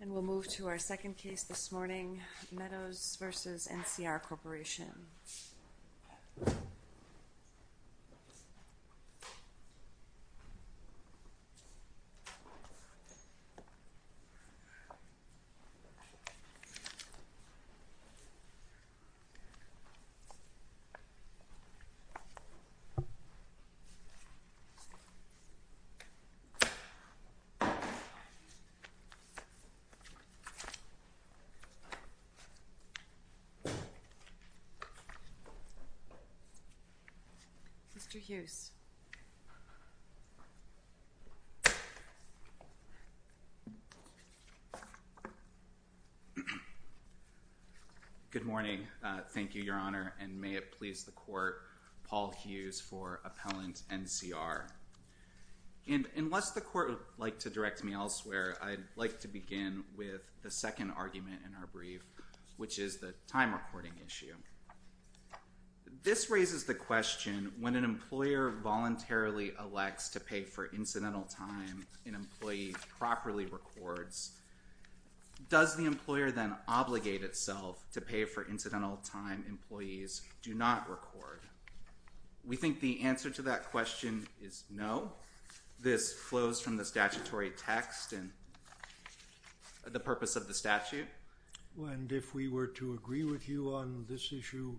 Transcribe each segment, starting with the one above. And we'll move to our second case this morning, Meadows v. NCR Corporation. Mr. Hughes Good morning. Thank you, Your Honor, and may it please the Court, Paul Hughes for me to begin with the second argument in our brief, which is the time recording issue. This raises the question, when an employer voluntarily elects to pay for incidental time an employee properly records, does the employer then obligate itself to pay for incidental time employees do not record? We think the answer to that question is no. This flows from the statutory text and the purpose of the statute. And if we were to agree with you on this issue,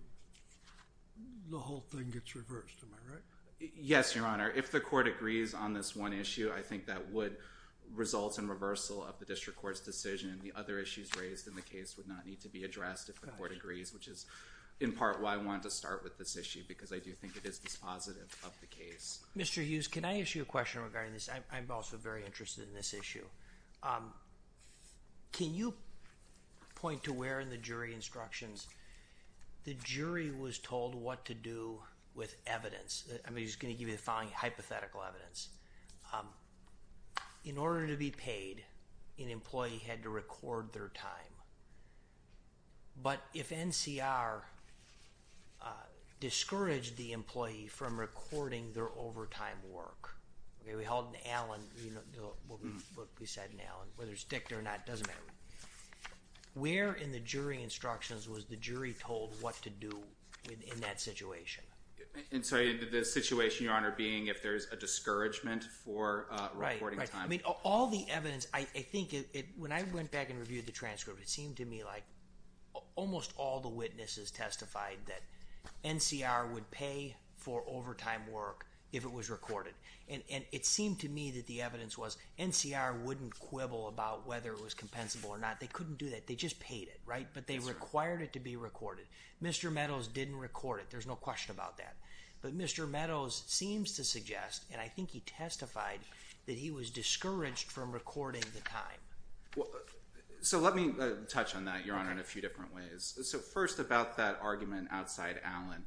the whole thing gets reversed, am I right? Yes, Your Honor. If the Court agrees on this one issue, I think that would result in reversal of the District Court's decision and the other issues raised in the case would not need to be addressed if the Court agrees, which is in part why I wanted to start with this issue, Mr. Hughes, can I ask you a question regarding this? I'm also very interested in this issue. Can you point to where in the jury instructions the jury was told what to do with evidence? I'm just going to give you the following hypothetical evidence. In order to be paid, an employee had to record their time. But if NCR discouraged the employee from recording their overtime work, where in the jury instructions was the jury told what to do in that situation? I'm sorry, the situation, Your Honor, being if there's a discouragement for recording all the evidence, I think when I went back and reviewed the transcript, it seemed to me like almost all the witnesses testified that NCR would pay for overtime work if it was recorded. And it seemed to me that the evidence was NCR wouldn't quibble about whether it was compensable or not. They couldn't do that. They just paid it, right? But they required it to be recorded. Mr. Meadows didn't record it. There's no question about that. But Mr. Meadows seems to suggest, and I think he testified, that he was discouraged from recording the time. So let me touch on that, Your Honor, in a few different ways. So first about that argument outside Allen.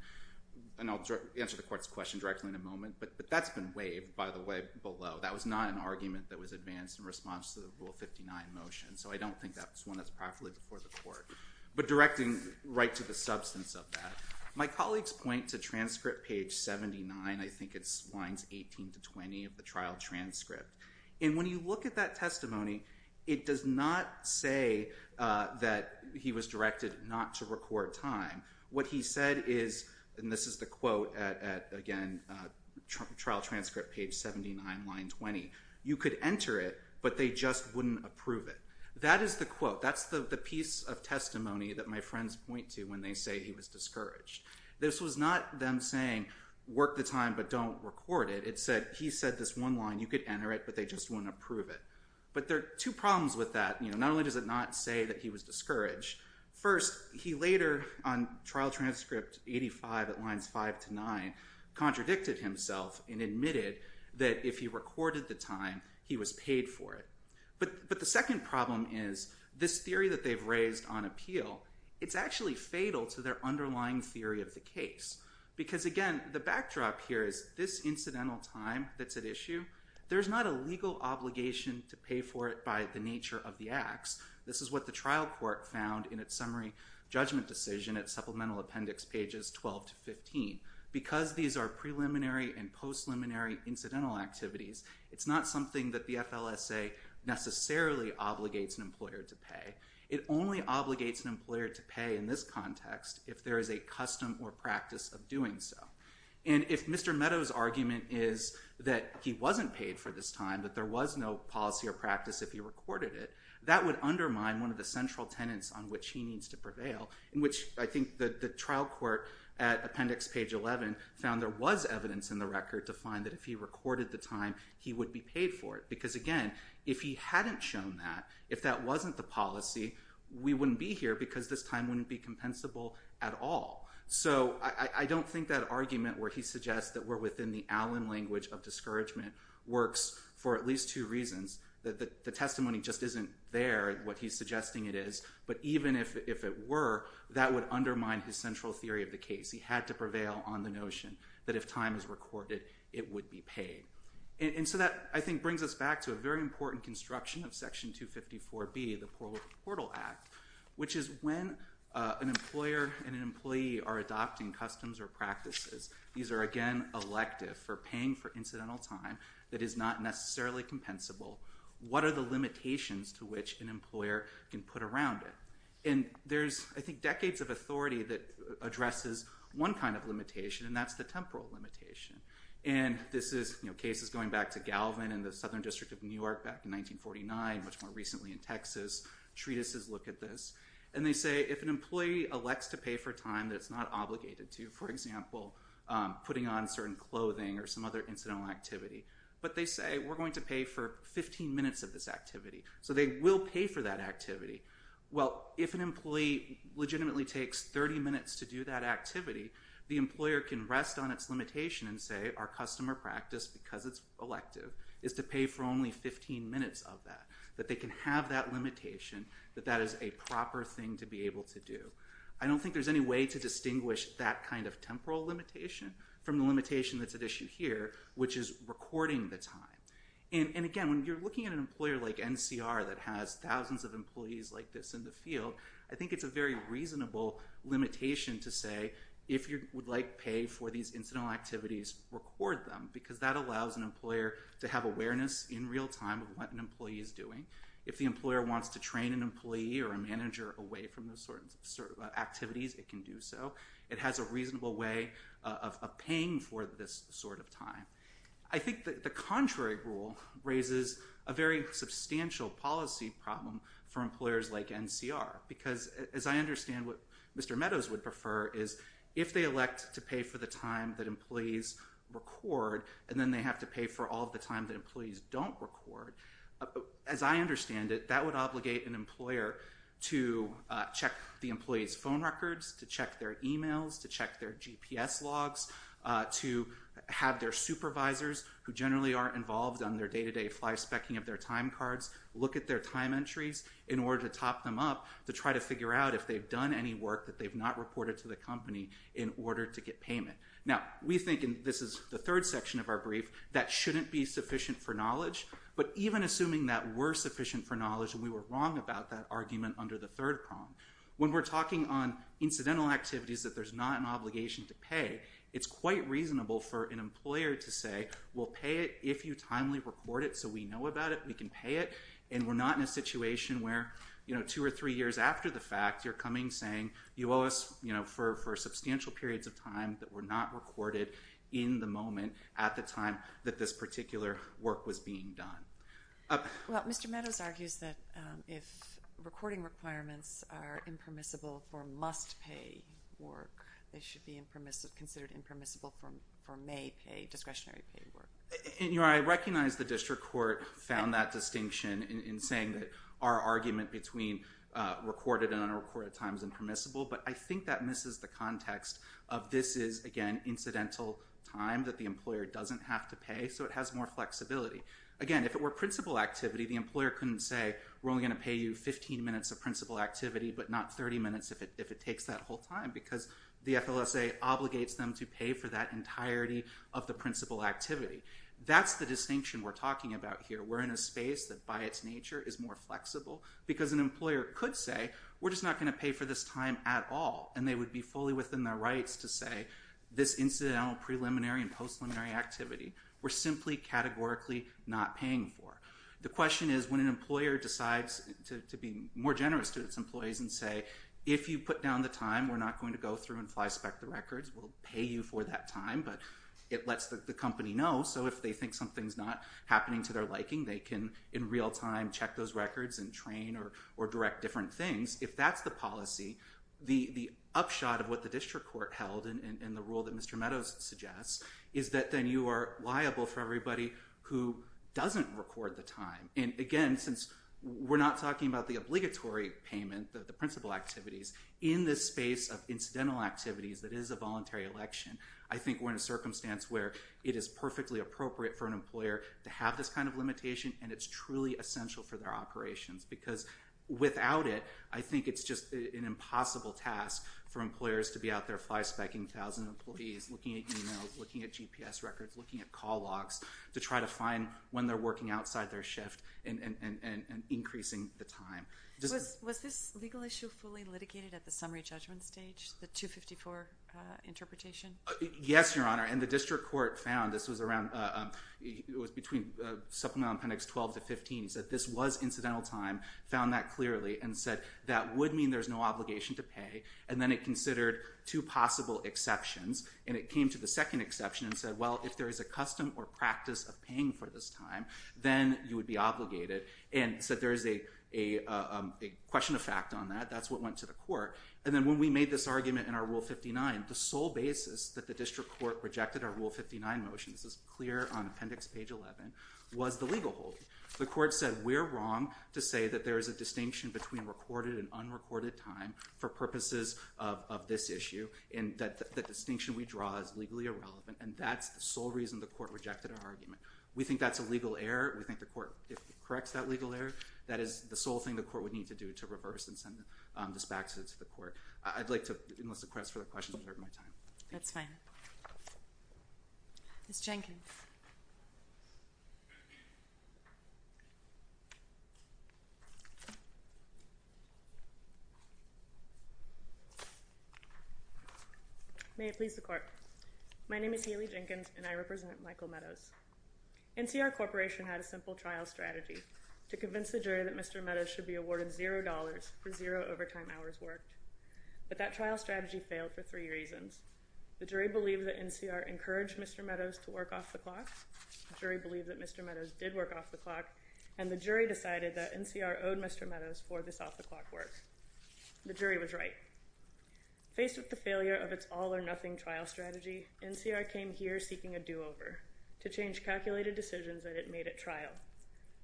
And I'll answer the court's question directly in a moment. But that's been waived, by the way, below. That was not an argument that was advanced in response to the Rule 59 motion. So I don't think that's one that's properly before the court. But directing right to the substance of that, my colleagues point to transcript page 79. I think it's lines 18 to 20 of the trial transcript. And when you look at that testimony, it does not say that he was directed not to record time. What he said is, and this is the quote at, again, trial transcript page 79, line 20, you could enter it, but they just wouldn't approve it. That is the quote. That's the piece of testimony that my friends point to when they say he was discouraged. This was not them saying, work the time, but don't record it. It said, he said this one line, you could enter it, but they just wouldn't approve it. But there are two problems with that. Not only does it not say that he was discouraged, first, he later, on trial transcript 85 at lines 5 to 9, contradicted himself and admitted that if he recorded the time, he was paid for it. But the second problem is this theory that they've raised on appeal, it's actually fatal to their underlying theory of the case. Because again, the backdrop here is this incidental time that's at issue, there's not a legal obligation to pay for it by the nature of the acts. This is what the trial court found in its summary judgment decision at supplemental appendix pages 12 to 15. Because these are post-luminary incidental activities, it's not something that the FLSA necessarily obligates an employer to pay. It only obligates an employer to pay in this context if there is a custom or practice of doing so. And if Mr. Meadows' argument is that he wasn't paid for this time, that there was no policy or practice if he recorded it, that would undermine one of the central tenets on which he needs to prevail, in which I think the trial court at appendix page 11 found there was evidence in the record to find that if he recorded the time, he would be paid for it. Because again, if he hadn't shown that, if that wasn't the policy, we wouldn't be here because this time wouldn't be compensable at all. So I don't think that argument where he suggests that we're within the Allen language of discouragement works for at least two reasons. The testimony just isn't there, what he's suggesting it is. But even if it were, that would undermine his central theory of the case. He had to prevail on the notion that if time is recorded, it would be paid. And so that, I think, brings us back to a very important construction of section 254B, the Portal Act, which is when an employer and an employee are adopting customs or practices, these are again elective for paying for incidental time that is not necessarily compensable, what are the limitations to which an employer can put around it? And there's, I think, decades of authority that addresses one kind of limitation, and that's the temporal limitation. And this is cases going back to Galvin in the Southern District of New York back in 1949, much more recently in Texas, treatises look at this. And they say if an employee elects to pay for time that it's not obligated to, for example, putting on certain clothing or some other incidental activity, but they say, we're going to pay for 15 minutes of this activity, so they will pay for that activity. Well, if an employee legitimately takes 30 minutes to do that activity, the employer can rest on its limitation and say, our custom or practice, because it's elective, is to pay for only 15 minutes of that, that they can have that limitation, that that is a proper thing to be able to do. I don't think there's any way to distinguish that kind of temporal limitation from the limitation that's at issue here, which is recording the time. And again, when you're looking at an employer like NCR that has thousands of employees like this in the field, I think it's a very reasonable limitation to say, if you would like pay for these incidental activities, record them, because that allows an employer to have awareness in real time of what an employee is doing. If the employer wants to train an employee or a manager away from those sort of activities, it can do so. It has a reasonable way of paying for this sort of time. I think that the contrary rule raises a very substantial policy problem for employers like NCR, because as I understand what Mr. Meadows would prefer is, if they elect to pay for the time that employees record, and then they have to pay for all of the time that employees don't record, as I understand it, that would obligate an employer to check the employee's phone records, to check their emails, to check their GPS logs, to have their supervisors, who generally are involved on their day-to-day fly-specking of their time cards, look at their time entries in order to top them up to try to figure out if they've done any work that they've not reported to the company in order to get payment. Now, we think, and this is the third section of our brief, that shouldn't be sufficient for knowledge, but even assuming that we're sufficient for knowledge and we were wrong about that argument under the third prong. When we're talking on incidental activities that there's not an obligation to pay, it's quite reasonable for an employer to say, we'll pay it if you timely record it so we know about it, we can pay it, and we're not in a situation where two or three years after the fact you're coming saying you owe us for substantial periods of time that were not recorded in the moment at the time that this If recording requirements are impermissible for must-pay work, they should be considered impermissible for may-pay, discretionary-pay work? And, you know, I recognize the district court found that distinction in saying that our argument between recorded and unrecorded time is impermissible, but I think that misses the context of this is, again, incidental time that the employer doesn't have to pay, so it has more flexibility. Again, if it were principal activity, the employer couldn't say we're only going to pay you 15 minutes of principal activity, but not 30 minutes if it takes that whole time, because the FLSA obligates them to pay for that entirety of the principal activity. That's the distinction we're talking about here. We're in a space that by its nature is more flexible, because an employer could say we're just not going to pay for this time at all, and they would be fully within their rights to say this incidental preliminary and post-preliminary activity we're simply categorically not paying for. The question is, when an employer decides to be more generous to its employees and say, if you put down the time, we're not going to go through and fly-spec the records, we'll pay you for that time, but it lets the company know, so if they think something's not happening to their liking, they can, in real time, check those records and train or direct different things, if that's the policy, the upshot of what the district court held in the rule that the time. And again, since we're not talking about the obligatory payment, the principal activities, in this space of incidental activities that is a voluntary election, I think we're in a circumstance where it is perfectly appropriate for an employer to have this kind of limitation, and it's truly essential for their operations, because without it, I think it's just an impossible task for employers to be out there fly-spec-ing 1,000 employees, looking at emails, looking at GPS records, looking at call logs, to try to find when they're working outside their shift and increasing the time. Was this legal issue fully litigated at the summary judgment stage, the 254 interpretation? Yes, Your Honor, and the district court found, this was between supplemental appendix 12 to 15, said this was incidental time, found that clearly, and said that would mean there's no obligation to pay, and then it considered two possible exceptions, and it came to the exception and said, well, if there is a custom or practice of paying for this time, then you would be obligated, and said there is a question of fact on that, that's what went to the court. And then when we made this argument in our Rule 59, the sole basis that the district court rejected our Rule 59 motion, this is clear on appendix page 11, was the legal holding. The court said we're wrong to say that there is a distinction between recorded and unrecorded time for purposes of this issue, and that the distinction we draw is legally irrelevant, and that's the sole reason the court rejected our argument. We think that's a legal error. We think the court, if it corrects that legal error, that is the sole thing the court would need to do to reverse and send this back to the court. I'd like to, unless the court has further questions, preserve my time. That's fine. Ms. Jenkins. May it please the court. My name is Haley Jenkins, and I represent Michael Meadows. NCR Corporation had a simple trial strategy to convince the jury that Mr. Meadows should be awarded $0 for zero overtime hours worked, but that trial strategy failed for three reasons. The jury believed that NCR encouraged Mr. Meadows to work off the clock, the jury believed that Mr. Meadows did work off the clock, and the jury decided that NCR owed Mr. Meadows for this off-the-clock work. The jury was right. Faced with the failure of its all-or-nothing trial strategy, NCR came here seeking a do-over to change calculated decisions that it made at trial,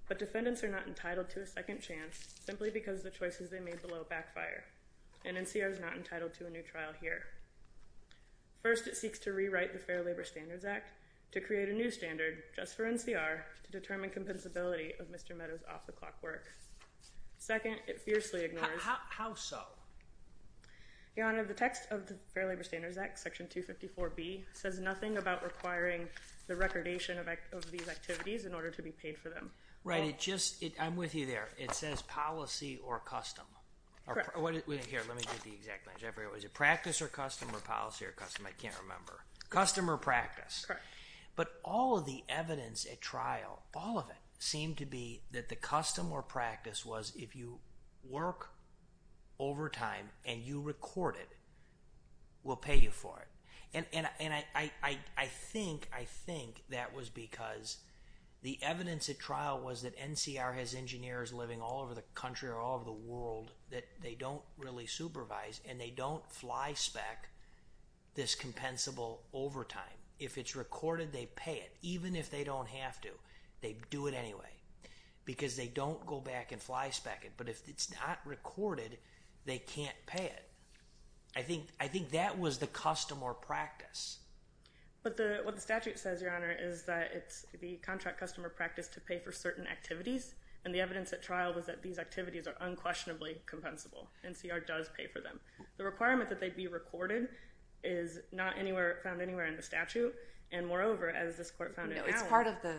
but defendants are not entitled to a second chance simply because the choices they made below backfire, and NCR is not entitled to a new trial here. First, it seeks to rewrite the Fair Labor Standards Act to create a new standard just for NCR to determine compensability of Mr. Meadows' off-the-clock work. Second, it fiercely ignores— How so? Your Honor, the text of the Fair Labor Standards Act, Section 254B, says nothing about requiring the recordation of these activities in order to be paid for them. Right, it just—I'm with you there. It says policy or custom. Correct. Here, let me get the exact language. I forget. Was it practice or custom or policy or custom? I can't remember. Custom or practice. Correct. But all of the evidence at trial, all of it, seemed to be that the custom or practice was if you work overtime and you record it, we'll pay you for it. And I think that was because the evidence at trial was that NCR has engineers living all over the country or all over the world that they don't really supervise and they don't fly-spec this compensable overtime. If it's recorded, they pay it, even if they don't have to. They do it anyway because they don't go back and fly-spec it. But if it's not recorded, they can't pay it. I think that was the custom or practice. But what the statute says, Your Honor, is that it's the contract custom or practice to pay for certain activities, and the evidence at trial was that these activities are unquestionably compensable. NCR does pay for them. The requirement that they be recorded is not found anywhere in the statute, and moreover, as this Court found in Allen... No, it's part of the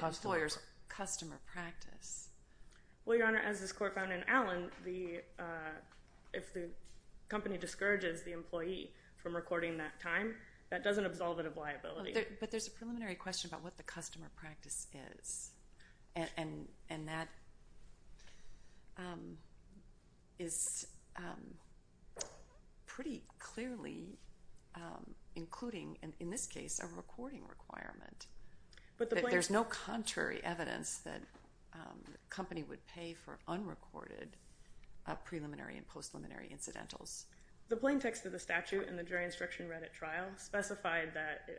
employer's customer practice. Well, Your Honor, as this Court found in Allen, if the company discourages the employee from recording that time, that doesn't absolve it of liability. But there's a preliminary question about what the customer practice is, and that is pretty clearly including, in this case, a recording requirement. There's no contrary evidence that the company would pay for unrecorded preliminary and post-preliminary incidentals. The plain text of the statute in the jury instruction read at trial specified that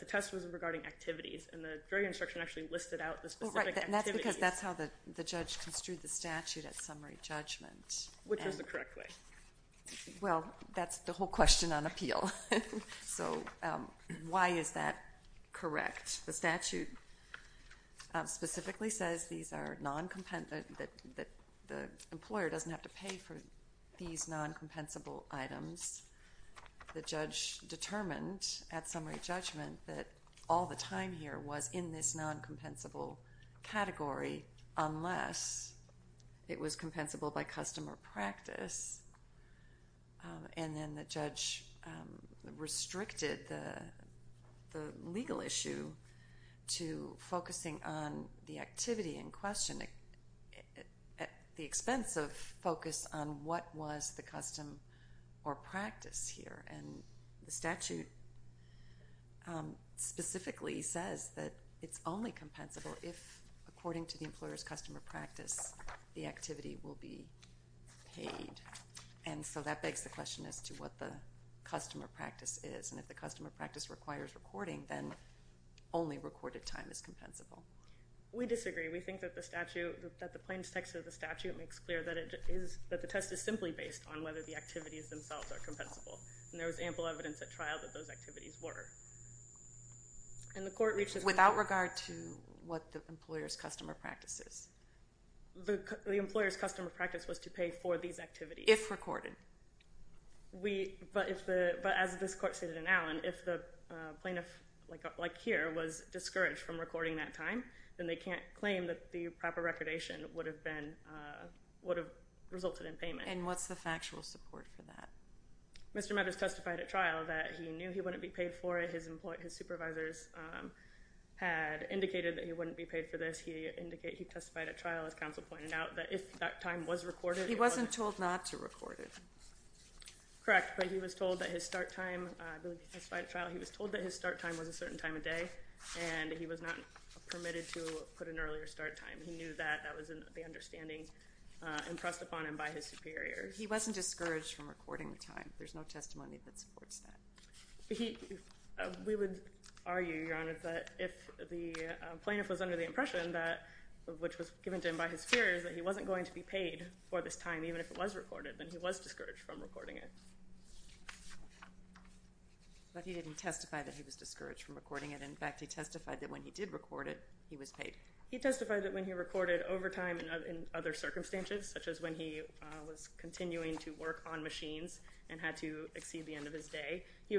the test was regarding activities, and the jury instruction actually listed out the specific activities. Well, right, and that's because that's how the judge construed the statute at summary judgment. Which was the correct way. Well, that's the whole question on appeal. So why is that correct? The statute specifically says that the employer doesn't have to pay for these non-compensable items. The judge determined at summary judgment that all the time here was in this non-compensable category unless it was compensable by customer practice. And then the judge restricted the legal issue to focusing on the activity in question at the expense of focus on what was the custom or practice here. And the statute specifically says that it's only compensable if, according to the employer's customer practice, the activity will be paid. And so that begs the question as to what the customer practice is. And if the customer practice requires recording, then only recorded time is compensable. We disagree. We think that the statute, that the plain text of the statute makes clear that it is, that the test is simply based on whether the activities themselves are compensable. And there was ample evidence at trial that those activities were. And the court reached a... The employer's customer practice was to pay for these activities. If recorded. We... But if the... But as this court stated in Allen, if the plaintiff, like here, was discouraged from recording that time, then they can't claim that the proper recordation would have been... Would have resulted in payment. And what's the factual support for that? Mr. Meadows testified at trial that he knew he wouldn't be paid for it. His supervisors had indicated that he wouldn't be paid for this. He testified at trial, as counsel pointed out, that if that time was recorded... He wasn't told not to record it. Correct. But he was told that his start time, I believe he testified at trial, he was told that his start time was a certain time of day, and he was not permitted to put an earlier start time. He knew that. That was the understanding impressed upon him by his superiors. He wasn't discouraged from recording the time. There's no testimony that supports that. We would argue, Your Honor, that if the plaintiff was under the impression that... Which was given to him by his superiors, that he wasn't going to be paid for this time, even if it was recorded, then he was discouraged from recording it. But he didn't testify that he was discouraged from recording it. In fact, he testified that when he did record it, he was paid. He testified that when he recorded overtime and other circumstances, such as when he was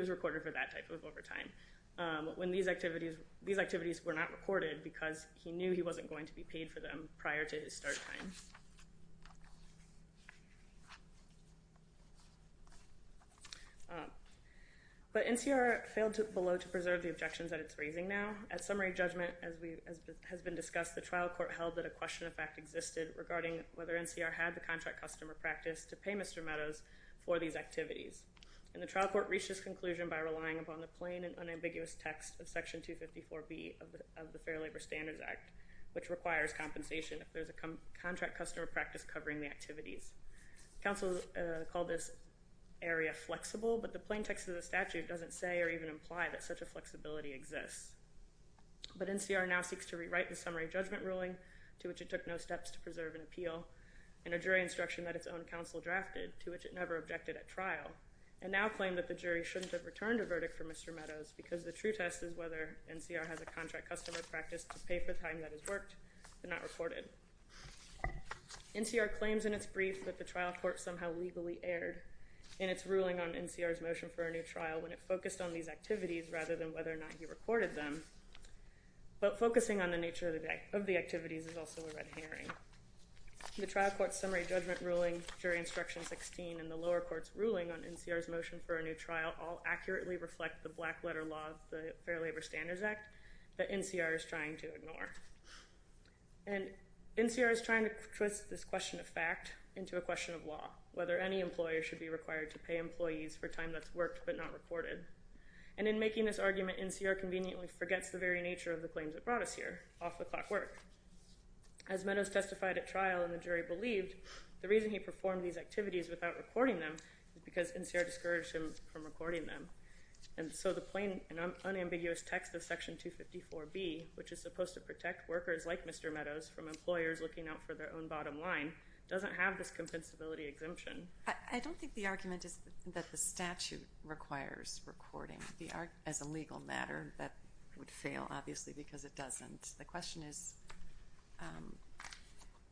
recorded for that type of overtime, when these activities were not recorded because he knew he wasn't going to be paid for them prior to his start time. But NCR failed below to preserve the objections that it's raising now. At summary judgment, as has been discussed, the trial court held that a question of fact existed regarding whether NCR had the contract customer practice to pay Mr. Meadows for these activities. And the trial court reached this conclusion by relying upon the plain and unambiguous text of Section 254B of the Fair Labor Standards Act, which requires compensation if there's a contract customer practice covering the activities. Counsel called this area flexible, but the plain text of the statute doesn't say or even imply that such a flexibility exists. But NCR now seeks to rewrite the summary judgment ruling, to which it took no steps to preserve and appeal, in a jury instruction that its own counsel drafted, to which it never objected at trial, and now claim that the jury shouldn't have returned a verdict for Mr. Meadows because the true test is whether NCR has a contract customer practice to pay for the time that has worked but not recorded. NCR claims in its brief that the trial court somehow legally erred in its ruling on NCR's motion for a new trial when it focused on these activities rather than whether or not he recorded them. But focusing on the nature of the activities is also a red herring. The trial court's summary judgment ruling, jury instruction 16, and the lower court's ruling on NCR's motion for a new trial all accurately reflect the black letter law of the Fair Labor Standards Act that NCR is trying to ignore. And NCR is trying to twist this question of fact into a question of law, whether any employer should be required to pay employees for time that's worked but not recorded. And in making this argument, NCR conveniently forgets the very nature of the claims it brought us here, off-the-clock work. As Meadows testified at trial and the jury believed, the reason he performed these activities without recording them is because NCR discouraged him from recording them. And so the plain and unambiguous text of Section 254B, which is supposed to protect workers like Mr. Meadows from employers looking out for their own bottom line, doesn't have this compensability exemption. I don't think the argument is that the statute requires recording. As a legal matter, that would fail, obviously, because it doesn't. The question is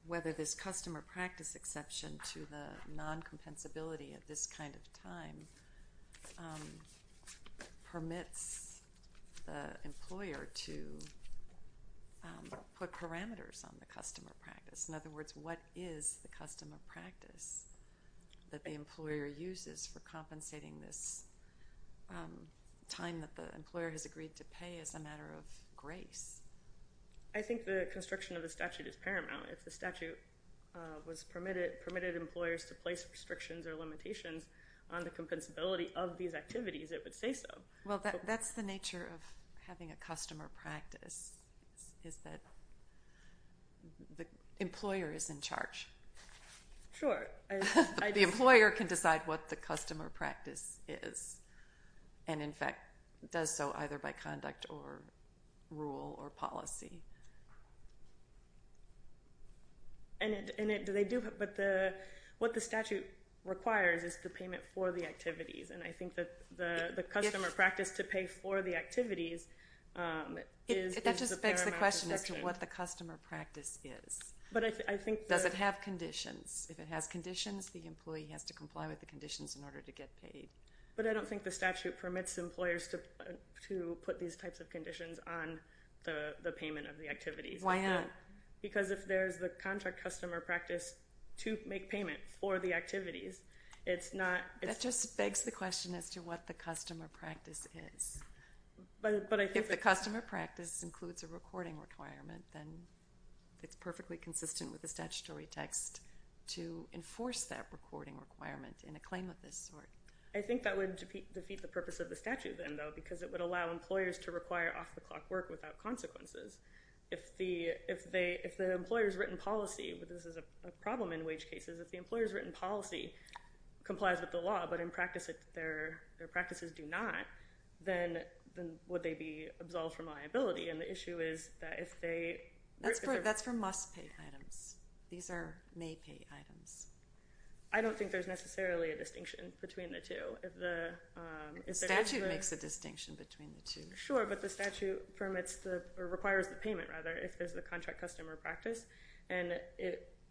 whether this customer practice exception to the non-compensability at this kind of time permits the employer to put parameters on the customer practice. In other words, what is the customer practice that the employer uses for compensating this time that the employer has agreed to pay as a matter of grace? I think the constriction of the statute is paramount. If the statute permitted employers to place restrictions or limitations on the compensability of these activities, it would say so. Well, that's the nature of having a customer practice, is that the employer is in charge. Sure. The employer can decide what the customer practice is and, in fact, does so either by conduct or rule or policy. What the statute requires is the payment for the activities, and I think the customer practice to pay for the activities is a paramount exception. That just begs the question as to what the customer practice is. Does it have conditions? If it has conditions, the employee has to comply with the conditions in order to get paid. But I don't think the statute permits employers to put these types of conditions on the payment of the activities. Why not? Because if there's the contract customer practice to make payment for the activities, it's not... That just begs the question as to what the customer practice is. But I think... If the customer practice includes a recording requirement, then it's perfectly consistent with the statutory text to enforce that recording requirement in a claim of this sort. I think that would defeat the purpose of the statute then, though, because it would allow employers to require off-the-clock work without consequences. If the employer's written policy... This is a problem in wage cases. If the employer's written policy complies with the law, but in practice their practices do not, then would they be absolved from liability? And the issue is that if they... That's for must-pay items. These are may-pay items. I don't think there's necessarily a distinction between the two. If the... The statute makes a distinction between the two. Sure, but the statute permits the... Or requires the payment, rather, if there's the contract customer practice. And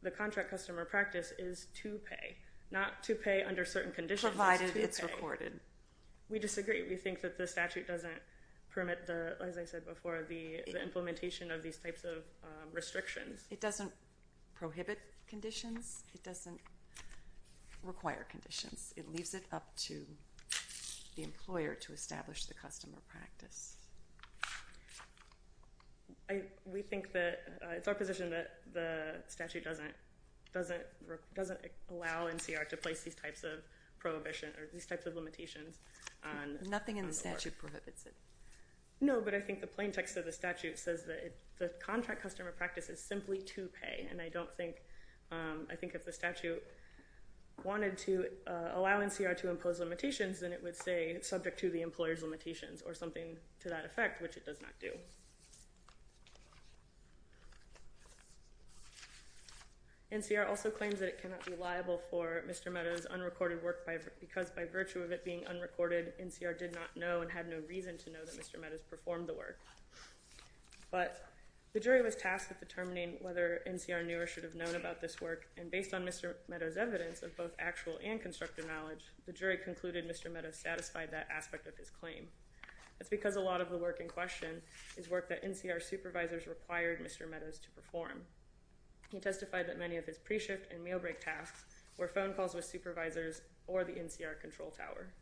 the contract customer practice is to pay, not to pay under certain conditions. Provided it's recorded. We disagree. We think that the statute doesn't permit the, as I said before, the implementation of these types of restrictions. It doesn't prohibit conditions. It doesn't require conditions. It leaves it up to the employer to establish the customer practice. We think that... It's our position that the statute doesn't allow NCR to place these types of prohibition or these types of limitations on the work. Nothing in the statute prohibits it. No, but I think the plain text of the statute says that the contract customer practice is simply to pay. And I don't think... I think if the statute wanted to allow NCR to impose limitations, then it would say, subject to the employer's limitations, or something to that effect, which it does not do. NCR also claims that it cannot be liable for Mr. Meadows' unrecorded work because by virtue of it being unrecorded, NCR did not know and had no reason to know that Mr. Meadows performed the work. But the jury was tasked with determining whether NCR knew or should have known about this work, and based on Mr. Meadows' evidence of both actual and constructive knowledge, the jury concluded Mr. Meadows satisfied that aspect of his claim. That's because a lot of the work in question is work that NCR supervisors required Mr. Meadows to perform. He testified that many of his pre-shift and meal break tasks were phone calls with supervisors or the NCR control tower.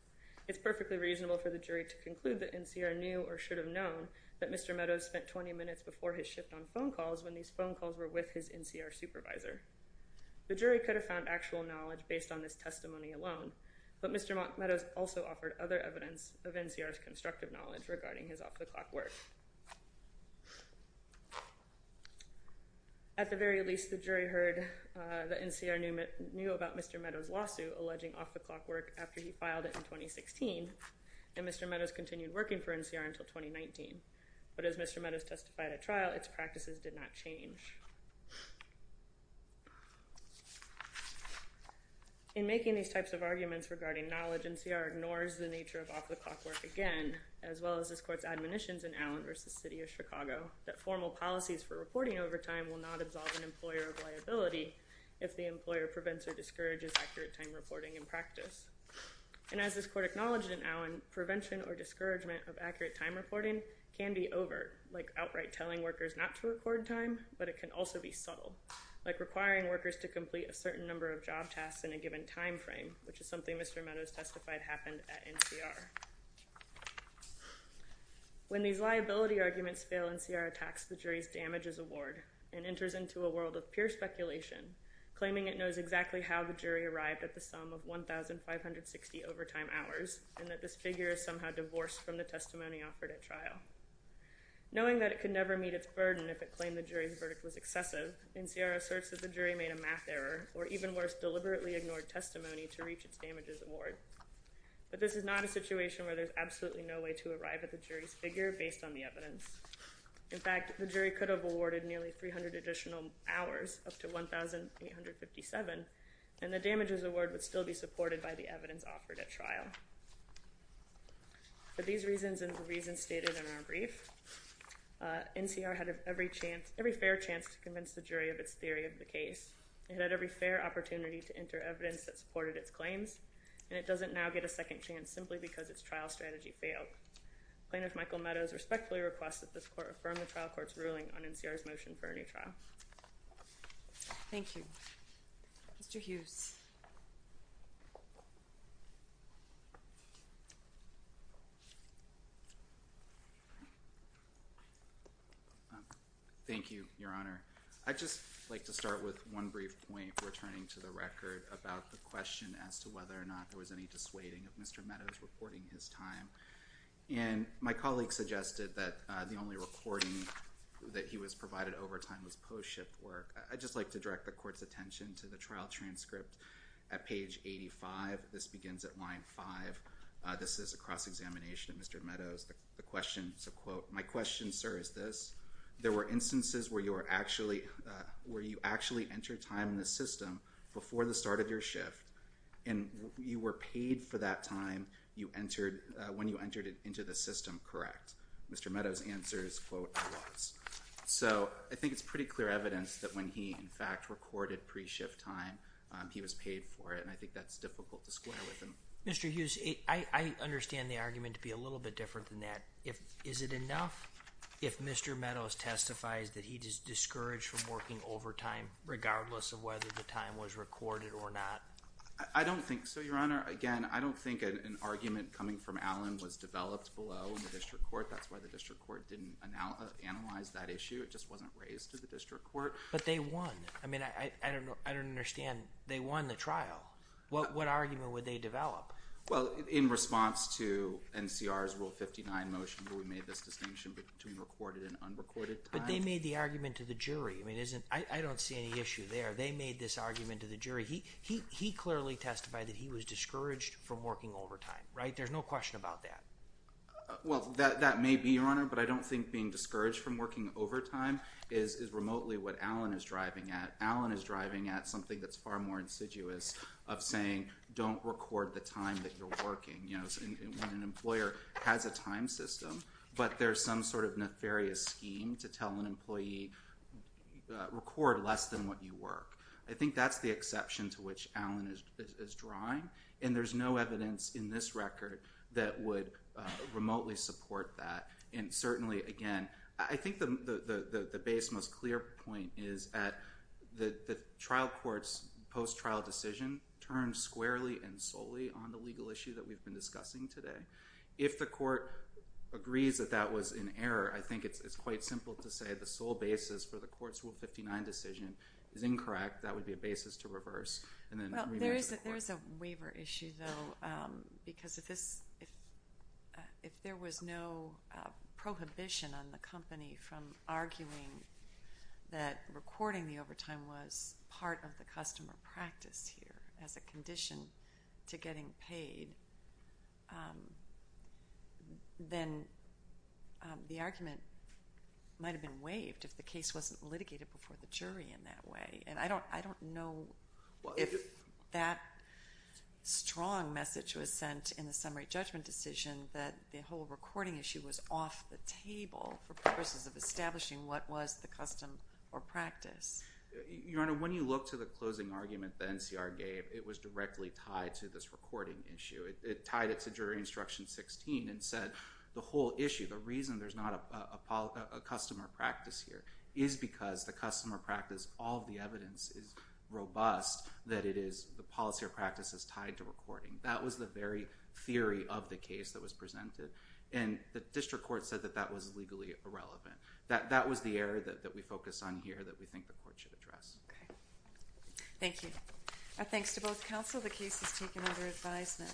It's perfectly reasonable for the jury to conclude that NCR knew or should have known that Mr. Meadows spent 20 minutes before his shift on phone calls when these phone calls were with his NCR supervisor. The jury could have found actual knowledge based on this testimony alone, but Mr. Meadows also offered other evidence of NCR's constructive knowledge regarding his off-the-clock work. At the very least, the jury heard that NCR knew about Mr. Meadows' lawsuit alleging off-the-clock work after he filed it in 2016, and Mr. Meadows continued working for NCR until 2019. But as Mr. Meadows testified at trial, its practices did not change. In making these types of arguments regarding knowledge, NCR ignores the nature of off-the-clock work again, as well as this court's admonitions in Allen v. City of Chicago that formal policies for reporting over time will not absolve an employer of liability if the employer prevents or discourages accurate time reporting in practice. And as this court acknowledged in Allen, prevention or discouragement of accurate time reporting can be overt, like outright telling workers not to record time, but it can also be subtle, like requiring workers to complete a certain number of job tasks in a given time frame, which is something Mr. Meadows testified happened at NCR. When these liability arguments fail, NCR attacks the jury's damages award and enters into a world of pure speculation, claiming it knows exactly how the jury arrived at the sum of 1,560 overtime hours, and that this figure is somehow divorced from the testimony offered at trial. Knowing that it could never meet its burden if it claimed the jury's verdict was excessive, NCR asserts that the jury made a math error, or even worse, deliberately ignored testimony to reach its damages award. But this is not a situation where there's absolutely no way to arrive at the jury's figure based on the evidence. In fact, the jury could have awarded nearly 300 additional hours, up to 1,857, and the damages award would still be supported by the evidence offered at trial. For these reasons and the reasons stated in our brief, NCR had every chance, every fair chance to convince the jury of its theory of the case, and had every fair opportunity to enter evidence that supported its claims, and it doesn't now get a second chance simply because its trial strategy failed. Plaintiff Michael Meadows respectfully requests that this court affirm the trial court's ruling on NCR's motion for a new trial. Thank you. Mr. Hughes. Thank you, Your Honor. I'd just like to start with one brief point, returning to the record, about the question as to whether or not there was any dissuading of Mr. Meadows reporting his time. And my colleague suggested that the only reporting that he was provided over time was post-ship work. I'd just like to direct the court's attention to the trial transcript at page 85. This begins at line 5. This is a cross-examination of Mr. Meadows. The question, it's a quote, my question, sir, is this. There were instances where you were actually, where you actually entered time in the system before the start of your shift, and you were paid for that time you entered, when you entered it into the system, correct? Mr. Meadows' answer is, quote, I was. So I think it's pretty clear evidence that when he, in fact, recorded pre-shift time, he was paid for it, and I think that's difficult to square with him. Mr. Hughes, I understand the argument to be a little bit different than that. Is it enough if Mr. Meadows testifies that he is discouraged from working overtime, regardless of whether the time was recorded or not? I don't think so, Your Honor. Again, I don't think an argument coming from Allen was developed below the district court. That's why the district court didn't analyze that issue. It just wasn't raised to the district court. But they won. I mean, I don't understand. They won the trial. What argument would they develop? Well, in response to NCR's Rule 59 motion, where we made this distinction between recorded and unrecorded time. But they made the argument to the jury. I mean, I don't see any issue there. They made this argument to the jury. He clearly testified that he was discouraged from working overtime, right? There's no question about that. Well, that may be, Your Honor, but I don't think being discouraged from working overtime is remotely what Allen is driving at. Allen is driving at something that's far more insidious of saying, don't record the time that you're working. You know, when an employer has a time system, but there's some sort of nefarious scheme to tell an employee, record less than what you work. I think that's the exception to which Allen is drawing. And there's no evidence in this record that would remotely support that. And certainly, again, I think the base most clear point is that the trial court's post-trial decision turned squarely and solely on the legal issue that we've been discussing today. If the court agrees that that was an error, I think it's quite simple to say the sole basis for the court's Rule 59 decision is incorrect. That would be a basis to reverse and then reverse the court. I have a waiver issue, though, because if there was no prohibition on the company from arguing that recording the overtime was part of the customer practice here as a condition to getting paid, then the argument might have been waived if the case wasn't litigated before the jury in that way. And I don't know if that strong message was sent in the summary judgment decision that the whole recording issue was off the table for purposes of establishing what was the custom or practice. Your Honor, when you look to the closing argument the NCR gave, it was directly tied to this recording issue. It tied it to jury instruction 16 and said the whole issue, the reason there's not a customer practice here, is because the customer practice, all of the evidence is robust that it is the policy or practice is tied to recording. That was the very theory of the case that was presented. And the district court said that that was legally irrelevant. That was the error that we focused on here that we think the court should address. Okay. Thank you. Thanks to both counsel. The case is taken under advisement.